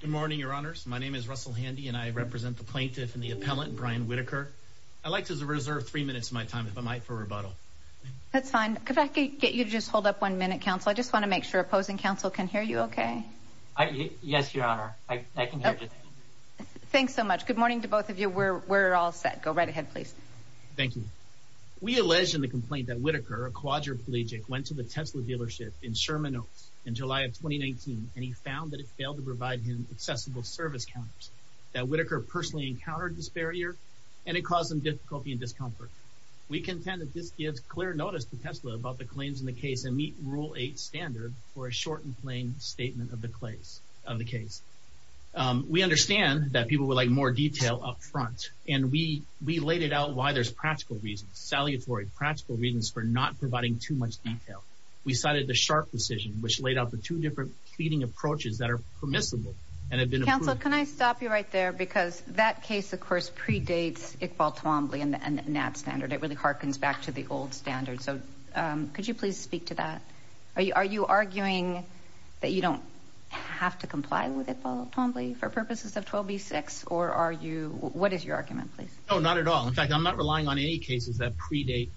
Good morning, your honors. My name is Russell Handy and I represent the plaintiff and the appellant Brian Whitaker. I'd like to reserve three minutes of my time, if I might, for rebuttal. That's fine. Could I get you to just hold up one minute, counsel? I just want to make sure opposing counsel can hear you okay. Yes, your honor. I can hear you. Thanks so much. Good morning to both of you. We're all set. Go right ahead, please. Thank you. We allege in the complaint that Whitaker, a quadriplegic, went to the Tesla dealership in Sherman Oaks in July of 2019 and he found that it failed to provide him accessible service counters. That Whitaker personally encountered this barrier and it caused him difficulty and discomfort. We contend that this gives clear notice to Tesla about the claims in the case and meet rule 8 standard for a short and plain statement of the case. We understand that people would like more detail up front and we laid it out why there's practical reasons, salutary practical reasons, for not providing too much detail. We cited the Sharpe decision which laid out the two different pleading approaches that are permissible and have been approved. Counsel, can I stop you right there? Because that case, of course, predates Iqbal Twombly and that standard. It really harkens back to the old standard. So could you please speak to that? Are you arguing that you don't have to comply with Iqbal Twombly for purposes of 12b6 or are you, what is your argument, please? No, not at all. In fact, I'm not relying on any cases that predate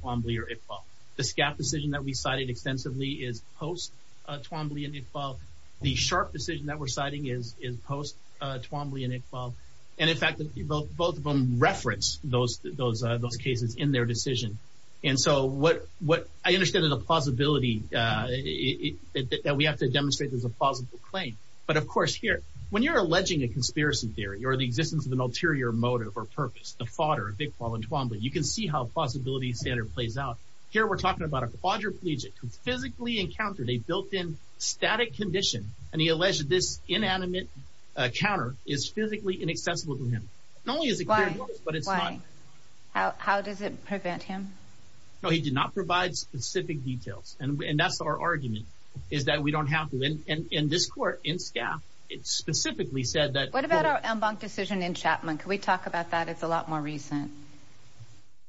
Twombly or Iqbal. The SCAP decision that we cited extensively is post-Twombly and Iqbal. The Sharpe decision that we're citing is post-Twombly and Iqbal. And in fact, both of them reference those cases in their decision. And so what I understand is a plausibility that we have to demonstrate there's a plausible claim. But of course, here, when you're alleging a conspiracy theory or the existence of an ulterior motive or purpose, the fodder of Iqbal and Twombly, you can see how a plausibility standard plays out. Here, we're talking about a quadriplegic who physically encountered a built-in static condition and he alleged this inanimate counter is physically inaccessible to him. Not only is it clear, but it's not. Why? How does it prevent him? No, he did not provide specific details. And that's our argument, is that we don't have to. And in this court, in SCAP, it specifically said that... What about our en banc decision in Chapman? Can we talk about that? It's a lot more recent.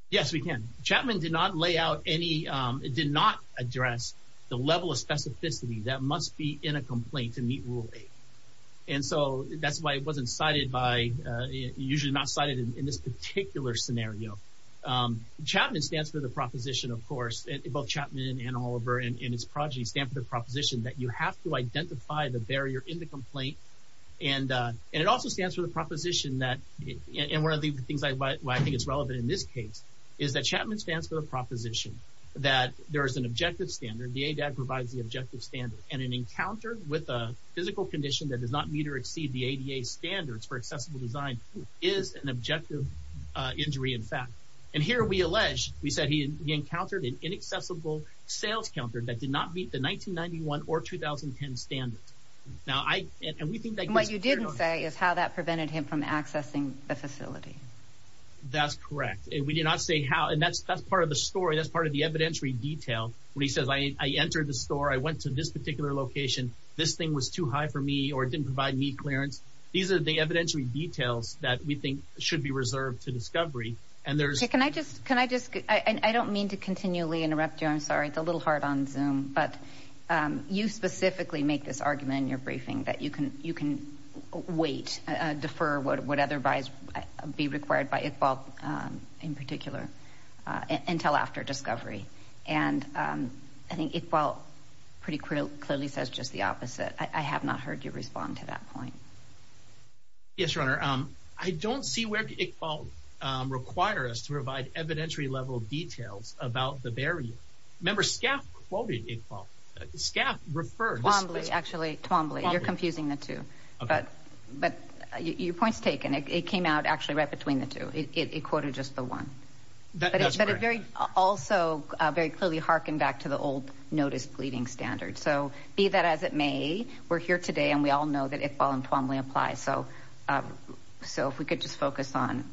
Yes, we can. Chapman did not lay out any... It did not address the level of specificity that must be in a complaint to meet Rule 8. And so that's why it wasn't cited by... Usually not cited in this particular scenario. Chapman stands for the proposition, of course, both Chapman and Oliver and his progeny stand for the proposition that you have to identify the barrier in the complaint. And it also stands for the proposition that... And one of the things why I think it's relevant in this case is that Chapman stands for the proposition that there is an objective standard. The ADAG provides the objective standard. And an encounter with a physical condition that does not meet or exceed the ADA standards for accessible design is an objective injury, in fact. And here we allege, we said he encountered an inaccessible sales counter that did not meet the 1991 or 2010 standards. Now, I... And we think that... Is how that prevented him from accessing the facility. That's correct. We did not say how. And that's part of the story. That's part of the evidentiary detail. When he says, I entered the store, I went to this particular location, this thing was too high for me, or it didn't provide me clearance. These are the evidentiary details that we think should be reserved to discovery. And there's... Can I just... I don't mean to continually interrupt you. I'm sorry. It's a little hard on Zoom. But you specifically make this argument in your weight, defer what would otherwise be required by Iqbal, in particular, until after discovery. And I think Iqbal pretty clearly says just the opposite. I have not heard you respond to that point. Yes, Your Honor. I don't see where Iqbal requires us to provide evidentiary level details about the barrier. Remember, Scaf quoted Iqbal. Scaf refers... Twombly, actually. Twombly. You're point's taken. It came out actually right between the two. It quoted just the one. That's correct. But it also very clearly harkened back to the old notice pleading standard. So be that as it may, we're here today and we all know that Iqbal and Twombly apply. So if we could just focus on,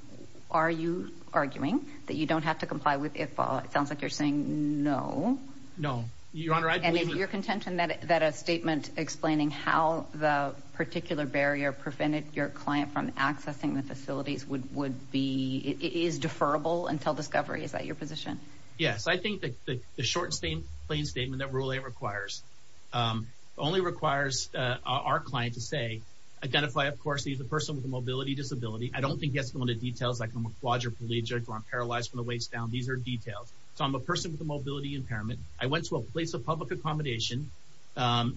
are you arguing that you don't have to comply with Iqbal? It sounds like you're saying no. No. Your Honor, I believe... And you're content that a statement explaining how the particular barrier prevented your client from accessing the facilities would be... Is deferrable until discovery. Is that your position? Yes. I think that the short and plain statement that Rule 8 requires only requires our client to say, identify, of course, he's a person with a mobility disability. I don't think he has to go into details like I'm a quadriplegic or I'm paralyzed from the waist down. These are details. So I'm a person with a mobility impairment. I went to a place of public accommodation,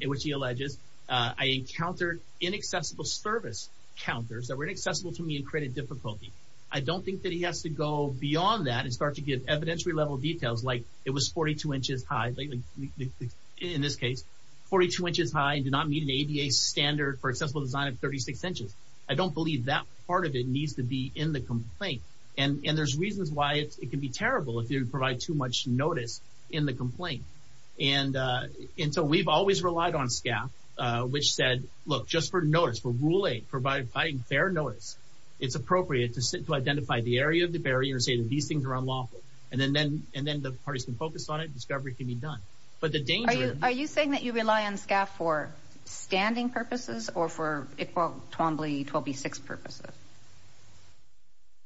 which he alleges. I encountered inaccessible service counters that were inaccessible to me and created difficulty. I don't think that he has to go beyond that and start to give evidentiary level details like it was 42 inches high, in this case, 42 inches high and did not meet an ADA standard for accessible design of 36 inches. I don't believe that part of it needs to be in the complaint. And there's reasons why it can be terrible if you provide too much notice in the complaint. And so we've always relied on SCAF, which said, look, just for notice, for Rule 8, providing fair notice, it's appropriate to identify the area of the barrier and say that these things are unlawful. And then the parties can focus on it. Discovery can be done. But the danger... Are you saying that you rely on SCAF for standing purposes or for 12B6 purposes?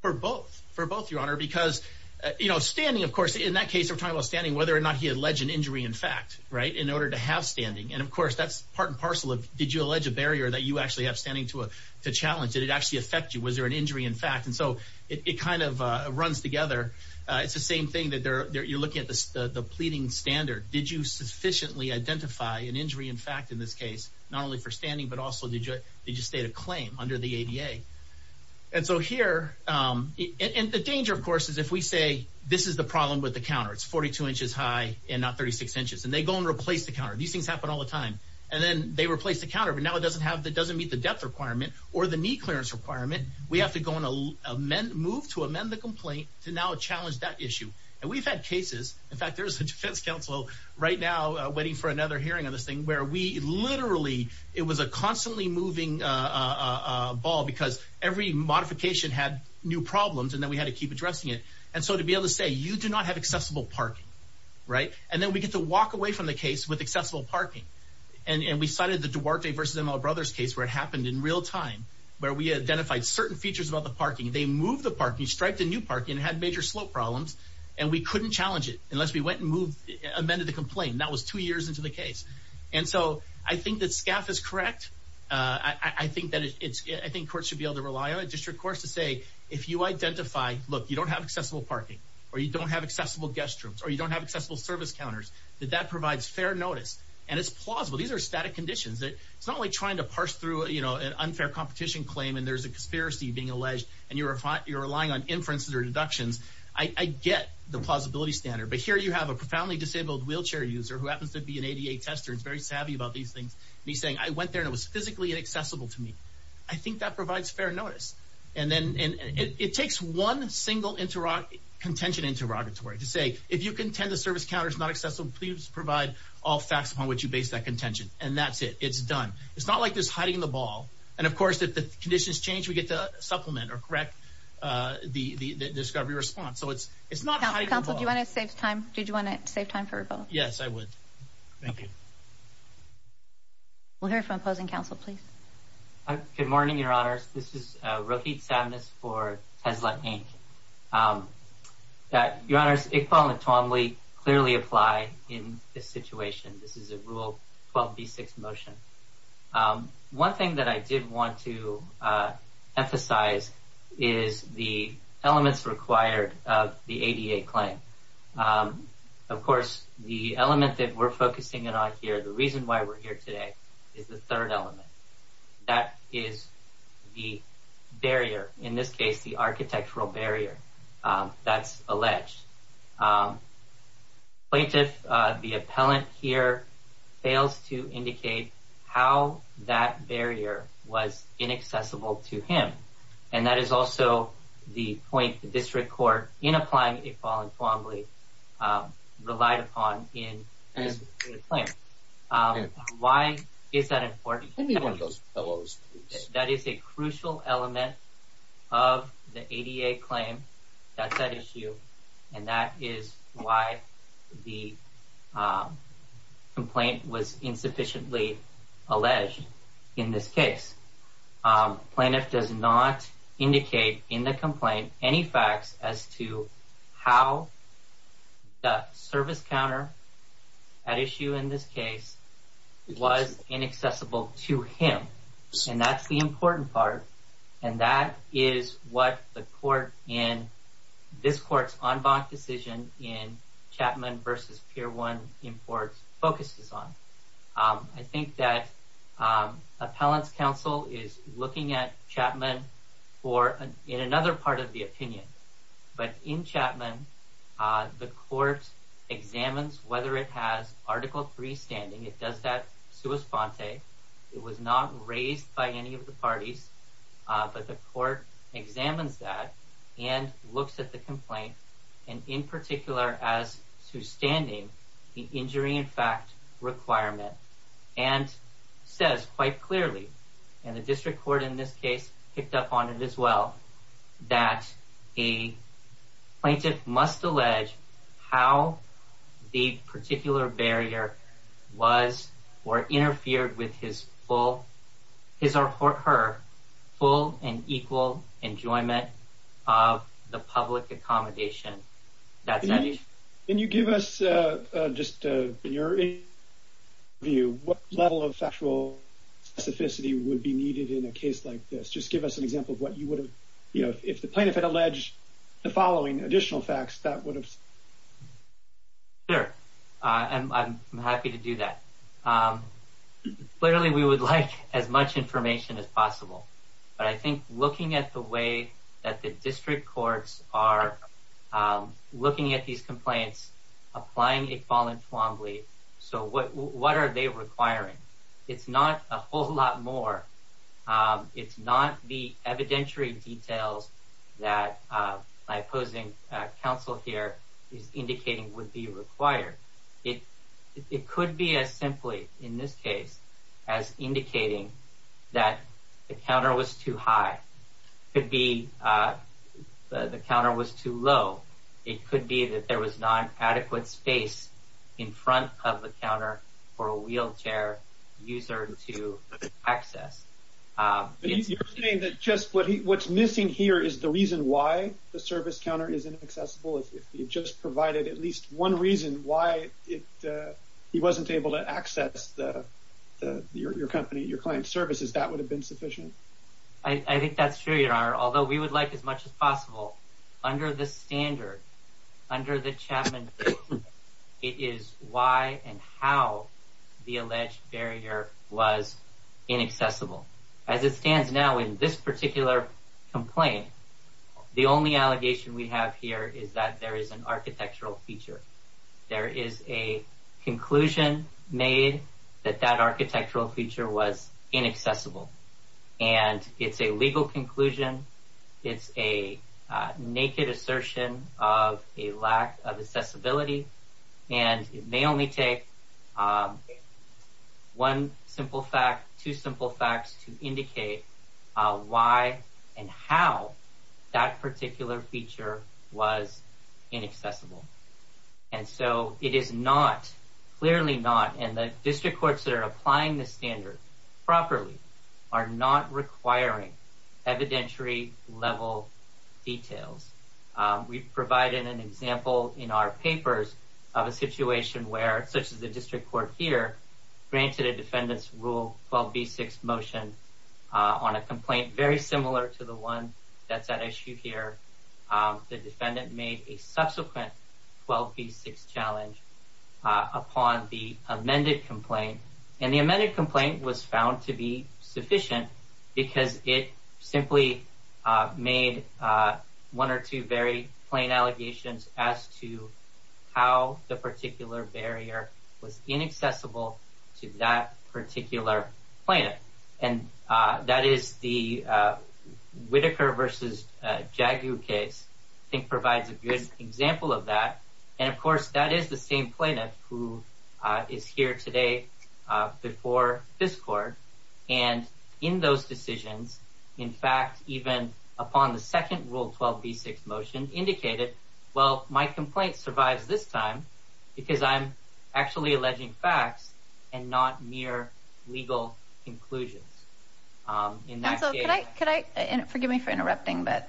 For both. For both, Your Honor, because, you know, standing, of course, in that case, we're talking about standing, whether or not he alleged an injury in fact, right, in order to have standing. And of course, that's part and parcel of, did you allege a barrier that you actually have standing to challenge? Did it actually affect you? Was there an injury in fact? And so it kind of runs together. It's the same thing that you're looking at the pleading standard. Did you sufficiently identify an injury in fact, in this case, not only for standing, but also did you state a claim under the ADA? And so here, and the danger, of course, is if we say this is the problem with the counter, it's 42 inches high and not 36 inches, and they go and replace the counter. These things happen all the time. And then they replace the counter, but now it doesn't meet the depth requirement or the knee clearance requirement. We have to go and move to amend the complaint to now challenge that issue. And we've had cases, in fact, there's a defense counsel right now waiting for another hearing on this thing where we constantly moving a ball because every modification had new problems and then we had to keep addressing it. And so to be able to say, you do not have accessible parking, right? And then we get to walk away from the case with accessible parking. And we cited the Duarte v. M.L. Brothers case where it happened in real time, where we identified certain features about the parking. They moved the parking, striped the new parking and had major slope problems. And we couldn't challenge it unless we went and moved, amended the complaint. That was two years into the case. And so I think that SCAF is correct. I think courts should be able to rely on a district court to say, if you identify, look, you don't have accessible parking or you don't have accessible guest rooms or you don't have accessible service counters, that that provides fair notice. And it's plausible. These are static conditions. It's not like trying to parse through an unfair competition claim and there's a conspiracy being alleged and you're relying on inferences or deductions. I get the plausibility standard. But here you have a profoundly disabled wheelchair user who happens to be an ADA tester and is very savvy about these things. And he's saying, I went there and it was physically inaccessible to me. I think that provides fair notice. And then it takes one single contention interrogatory to say, if you contend the service counter is not accessible, please provide all facts upon which you base that contention. And that's it. It's done. It's not like this hiding the ball. And of course, if the conditions change, we get to supplement or correct the discovery response. So it's not hiding the ball. Counsel, do you want to save time? Did you want to save time for a vote? Yes, I would. Thank you. We'll hear from opposing counsel, please. Good morning, Your Honors. This is Rohit Samnis for Tesla Inc. Your Honors, Iqbal and Tomli clearly apply in this situation. This is a Rule 12b-6 motion. One thing that I did want to emphasize is the elements required of the ADA claim. Of course, the element that we're focusing on here, the reason why we're here today is the third element. That is the barrier, in this case, the architectural barrier that's alleged. Plaintiff, the appellant here fails to indicate how that barrier was inaccessible to him. And that is also the point the district court, in applying Iqbal and Tomli, relied upon in this particular claim. Why is that important? Give me one of those pillows, please. That is a crucial element of the ADA claim. That's at issue. And that is why the indicate in the complaint any facts as to how the service counter at issue in this case was inaccessible to him. And that's the important part. And that is what the court in this court's en banc decision in Chapman v. Pier 1 in court focuses on. I think that appellant's counsel is looking at Chapman in another part of the opinion. But in Chapman, the court examines whether it has Article 3 standing. It does that sua sponte. It was not raised by any of the parties. But the court examines that and looks at the complaint. And in particular, as to standing the injury in fact requirement. And says quite clearly, and the district court in this case picked up on it as well, that a plaintiff must allege how the particular barrier was or interfered with his or her full and equal enjoyment of the public accommodation. That's at issue. Can you give us, just in your view, what level of factual specificity would be needed in a case like this? Just give us an example of what you would have, you know, if the plaintiff had alleged the following additional facts that would have... Sure. I'm happy to do that. Literally, we would like as much information as possible. But I think looking at the way that the district courts are looking at these complaints, applying it voluntarily. So what are they requiring? It's not a whole lot more. It's not the evidentiary details that my opposing counsel here is indicating would be required. It could be as simply, in this case, as indicating that the counter was too high. It could be the counter was too low. It could be that there was not adequate space in front of the counter for a wheelchair user to access. You're saying that just what's missing here is the reason why the service counter is inaccessible? If you just provided at least one reason why he wasn't able to access your company, your client services, that would have been sufficient? I think that's true, Your Honor. Although we would like as much as possible, under the standard, under the Chapman case, it is why and how the alleged barrier was inaccessible. As it stands now in this particular complaint, the only allegation we have here is that there is an architectural feature. There is a conclusion made that that architectural feature was inaccessible. And it's a legal conclusion. It's a naked assertion of a lack of accessibility. And it may only take one simple fact, two simple facts to indicate why and how that particular feature was inaccessible. And so it is not, clearly not, and the district courts that are applying the standard properly are not requiring evidentiary level details. We've provided an example in our papers of a situation where, such as the district court here, granted a defendant's rule 12b6 motion on a complaint very similar to the one that's at issue here. The defendant made a subsequent 12b6 challenge upon the amended complaint. And the amended complaint was found to be sufficient because it simply made one or two very plain allegations as to how the particular barrier was inaccessible to that particular plaintiff. And that is the Whitaker versus Jagu case, I think provides a good example of that. And of course, that is the same plaintiff who is here today before this court. And in those decisions, in fact, even upon the second rule 12b6 motion indicated, well, my complaint survives this time because I'm actually alleging facts and not mere legal conclusions. And so could I, forgive me for interrupting, but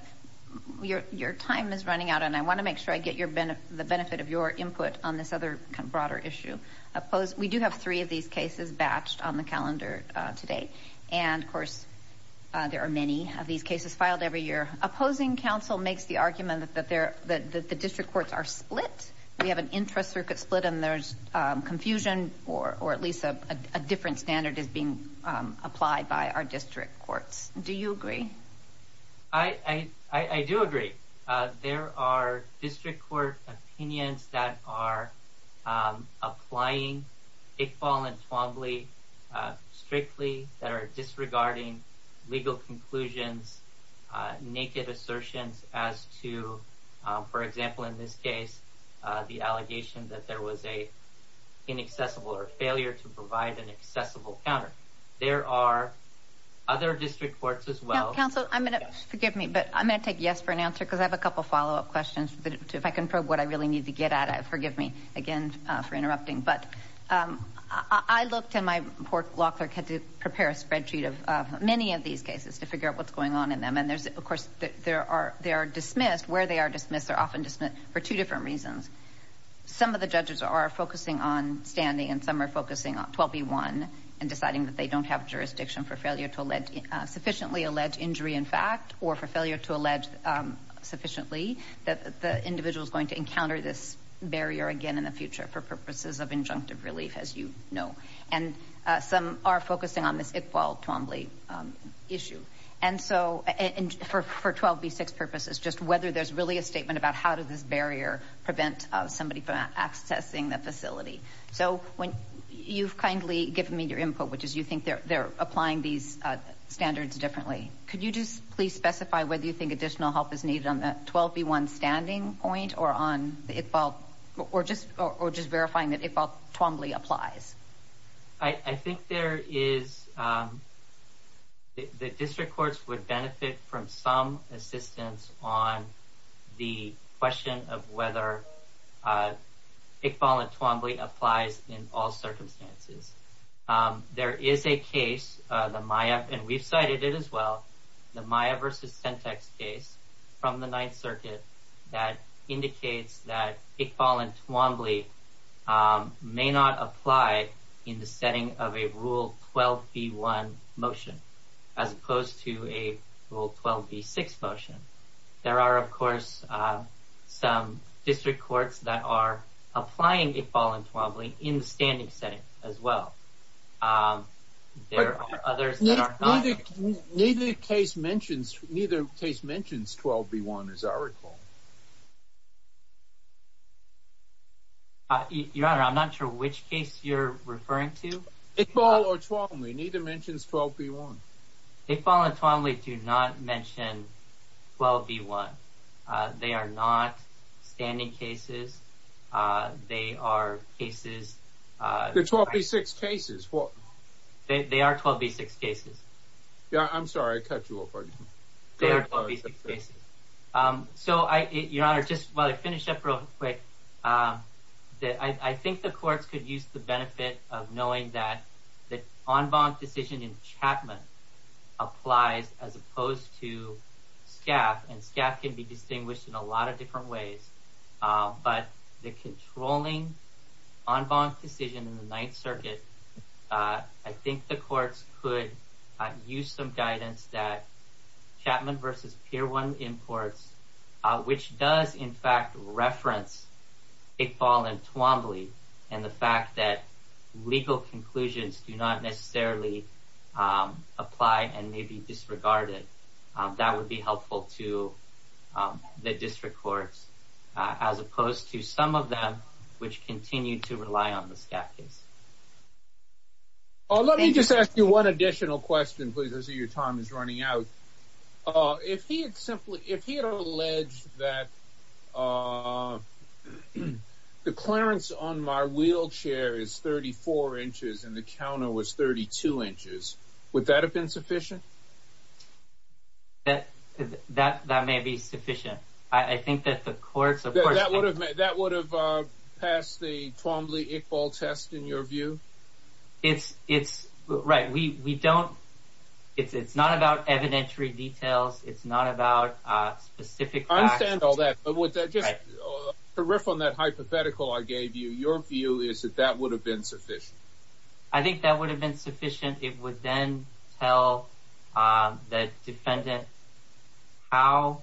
your time is running out and I want to make sure I get the benefit of your input on this other broader issue. We do have three of these cases batched on the calendar today. And of course, there are many of these cases filed every year. Opposing counsel makes the argument that the district courts are split. We have an interest circuit split and there's confusion or at least a different standard is being applied by our district courts. Do you agree? I, I, I do agree. There are district court opinions that are applying a fall and Twombly strictly that are disregarding legal conclusions, naked assertions as to, for example, in this case, the allegation that there was a inaccessible or failure to provide an accessible counter. There are other district courts as well. Counsel, I'm going to, forgive me, but I'm going to take yes for an answer because I have a couple of follow-up questions that if I can probe what I really need to get at it, forgive me again for interrupting. But I looked in my court locker, had to prepare a spreadsheet of many of these cases to figure out what's going on in them. And there's, of course, there are, they are dismissed where they are dismissed. They're often dismissed for two different reasons. Some of the judges are focusing on standing and some focusing on 12B1 and deciding that they don't have jurisdiction for failure to sufficiently allege injury in fact, or for failure to allege sufficiently that the individual is going to encounter this barrier again in the future for purposes of injunctive relief, as you know. And some are focusing on this Iqbal-Twombly issue. And so for 12B6 purposes, just whether there's really a statement about how does this barrier prevent somebody from accessing the You've kindly given me your input, which is you think they're applying these standards differently. Could you just please specify whether you think additional help is needed on the 12B1 standing point or on the Iqbal or just verifying that Iqbal-Twombly applies? I think there is, the district courts would benefit from some assistance on the question of whether Iqbal and Twombly applies in all circumstances. There is a case, the Maya, and we've cited it as well, the Maya versus Sentex case from the Ninth Circuit that indicates that Iqbal and Twombly may not apply in the setting of a Rule 12B1 motion, as opposed to a Rule 12B6 motion. There are, of course, some district courts that are applying Iqbal and Twombly in the standing setting as well. There are others that are not. Neither case mentions 12B1 as I recall. Your Honor, I'm not sure which case you're referring to. Iqbal or Twombly, neither mentions 12B1. Iqbal and Twombly do not mention 12B1. They are not standing cases. They are cases... They're 12B6 cases. They are 12B6 cases. I'm sorry, I cut you off. They are 12B6 cases. Your Honor, just while I finish up real quick, I think the courts could use the benefit of knowing that the en banc decision in Chapman applies as opposed to Scaff, and Scaff can be distinguished in a lot of different ways. But the controlling en banc decision in the Ninth Circuit, I think the courts could use some guidance that Chapman v. Pier 1 imports, which does in fact reference Iqbal and Twombly, and the fact that legal conclusions do not necessarily apply and may be disregarded. That would be helpful to the district courts, as opposed to some of them which continue to rely on the Scaff case. Oh, let me just ask you one additional question, please, as your time is running out. If he had alleged that the clearance on my wheelchair is 34 inches and the counter was 32 inches, would that have been sufficient? That may be sufficient. I think that the courts... That would have passed the Twombly-Iqbal test, in your view? It's... Right. We don't... It's not about evidentiary details. It's not about specific facts. I understand all that, but just to riff on that hypothetical I gave you, your view is that that would have been sufficient. I think that would have been sufficient. It would then tell the defendant how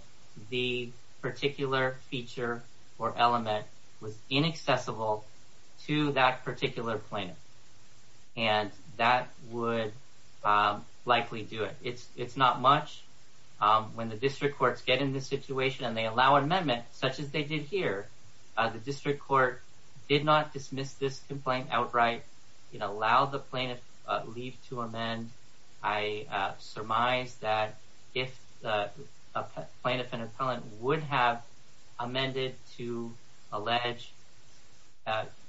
the particular feature or element was inaccessible to that particular plaintiff, and that would likely do it. It's not much. When the district courts get in this situation and they allow an amendment, such as they did here, the district court did not dismiss this complaint outright. It allowed the plaintiff leave to amend. I surmise that if the plaintiff and alleged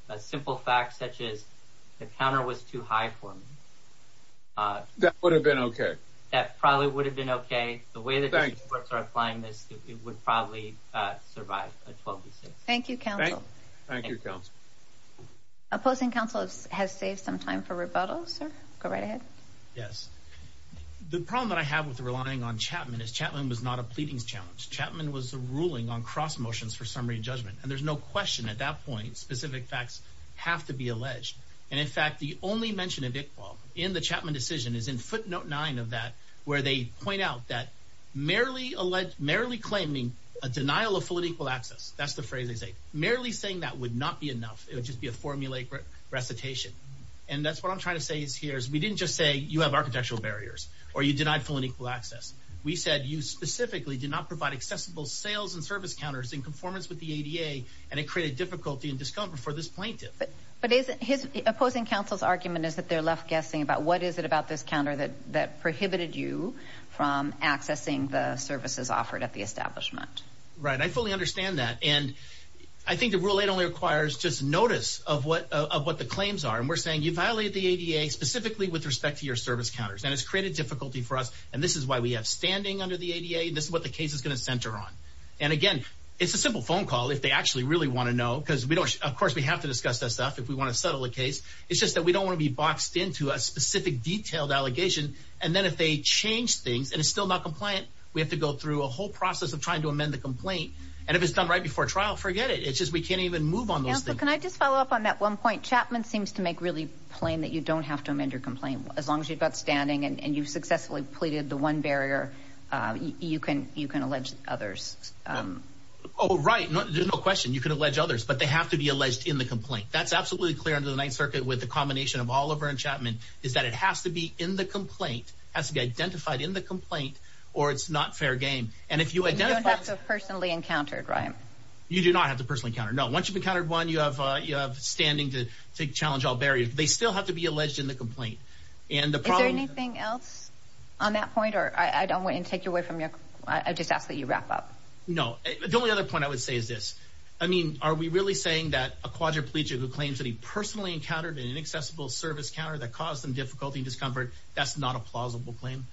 a simple fact such as the counter was too high for me... That would have been okay. That probably would have been okay. The way the district courts are applying this, it would probably survive a Twombly-Iqbal test. Thank you, counsel. Thank you, counsel. Opposing counsel has saved some time for rebuttal. Sir, go right ahead. Yes. The problem that I have with relying on Chapman is Chapman was not a pleadings challenge. Chapman was ruling on cross motions for summary judgment, and there's no question at that point specific facts have to be alleged. In fact, the only mention of Iqbal in the Chapman decision is in footnote nine of that, where they point out that merely claiming a denial of full and equal access, that's the phrase they say, merely saying that would not be enough. It would just be a formulaic recitation. That's what I'm trying to say here. We didn't just say you have architectural barriers or you denied full and equal access. We said you specifically did not provide accessible sales and service counters in conformance with the ADA, and it created difficulty and discomfort for this plaintiff. But his opposing counsel's argument is that they're left guessing about what is it about this counter that prohibited you from accessing the services offered at the establishment. Right. I fully understand that. And I think the Rule 8 only requires just notice of what the claims are. And we're saying you violated the ADA specifically with respect to your service counters. And it's created difficulty for us. And this is why we have standing under the ADA. This is what the case is going to center on. And again, it's a simple phone call if they actually really want to know, because we don't. Of course, we have to discuss that stuff if we want to settle a case. It's just that we don't want to be boxed into a specific, detailed allegation. And then if they change things and it's still not compliant, we have to go through a whole process of trying to amend the complaint. And if it's done right before trial, forget it. It's just we can't even move on. Can I just follow up on that one point? Chapman seems to make really plain that you don't have to amend your complaint. As long as you've got standing and you've successfully pleaded the one barrier, you can allege others. Oh, right. There's no question. You can allege others, but they have to be alleged in the complaint. That's absolutely clear under the Ninth Circuit with the combination of Oliver and Chapman is that it has to be in the complaint, has to be identified in the complaint, or it's not fair game. And if you identify... You don't have to personally encounter, right? You do not have to personally encounter. No. Once you've encountered one, you have standing to challenge all barriers. They still have to be alleged in the complaint. Is there anything else on that point? Or I don't want to take you away from your... I just ask that you wrap up. No. The only other point I would say is this. I mean, are we really saying that a quadriplegic who claims that he personally encountered an inaccessible service counter that caused them difficulty and discomfort, that's not a plausible claim?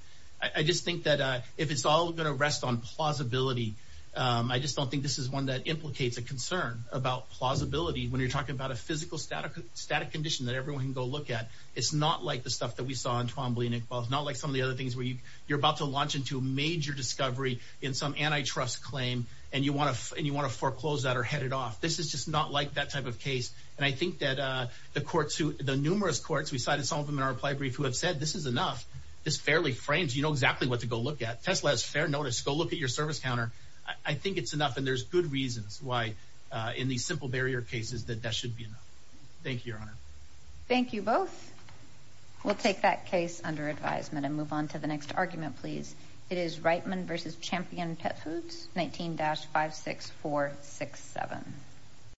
I just think that if it's all going to rest on plausibility, I just don't think this is one that implicates a concern about plausibility when you're talking about a physical static condition that everyone can go look at. It's not like the stuff that we saw in Twombly and Iqbal. It's not like some of the other things where you're about to launch into a major discovery in some antitrust claim and you want to foreclose that or head it off. This is just not like that type of case. And I think that the courts who... The numerous courts, we cited some of them in our reply brief, who have said, this is enough. This fairly frames. You know exactly what to go look at. Tesla has fair notice. Go look at your service counter. I think it's enough and there's good reasons why in these simple barrier cases that that should be enough. Thank you, Your Honor. Thank you both. We'll take that case under advisement and move on to the next argument, please. It is Reitman v. Champion Pet Foods, 19-56467.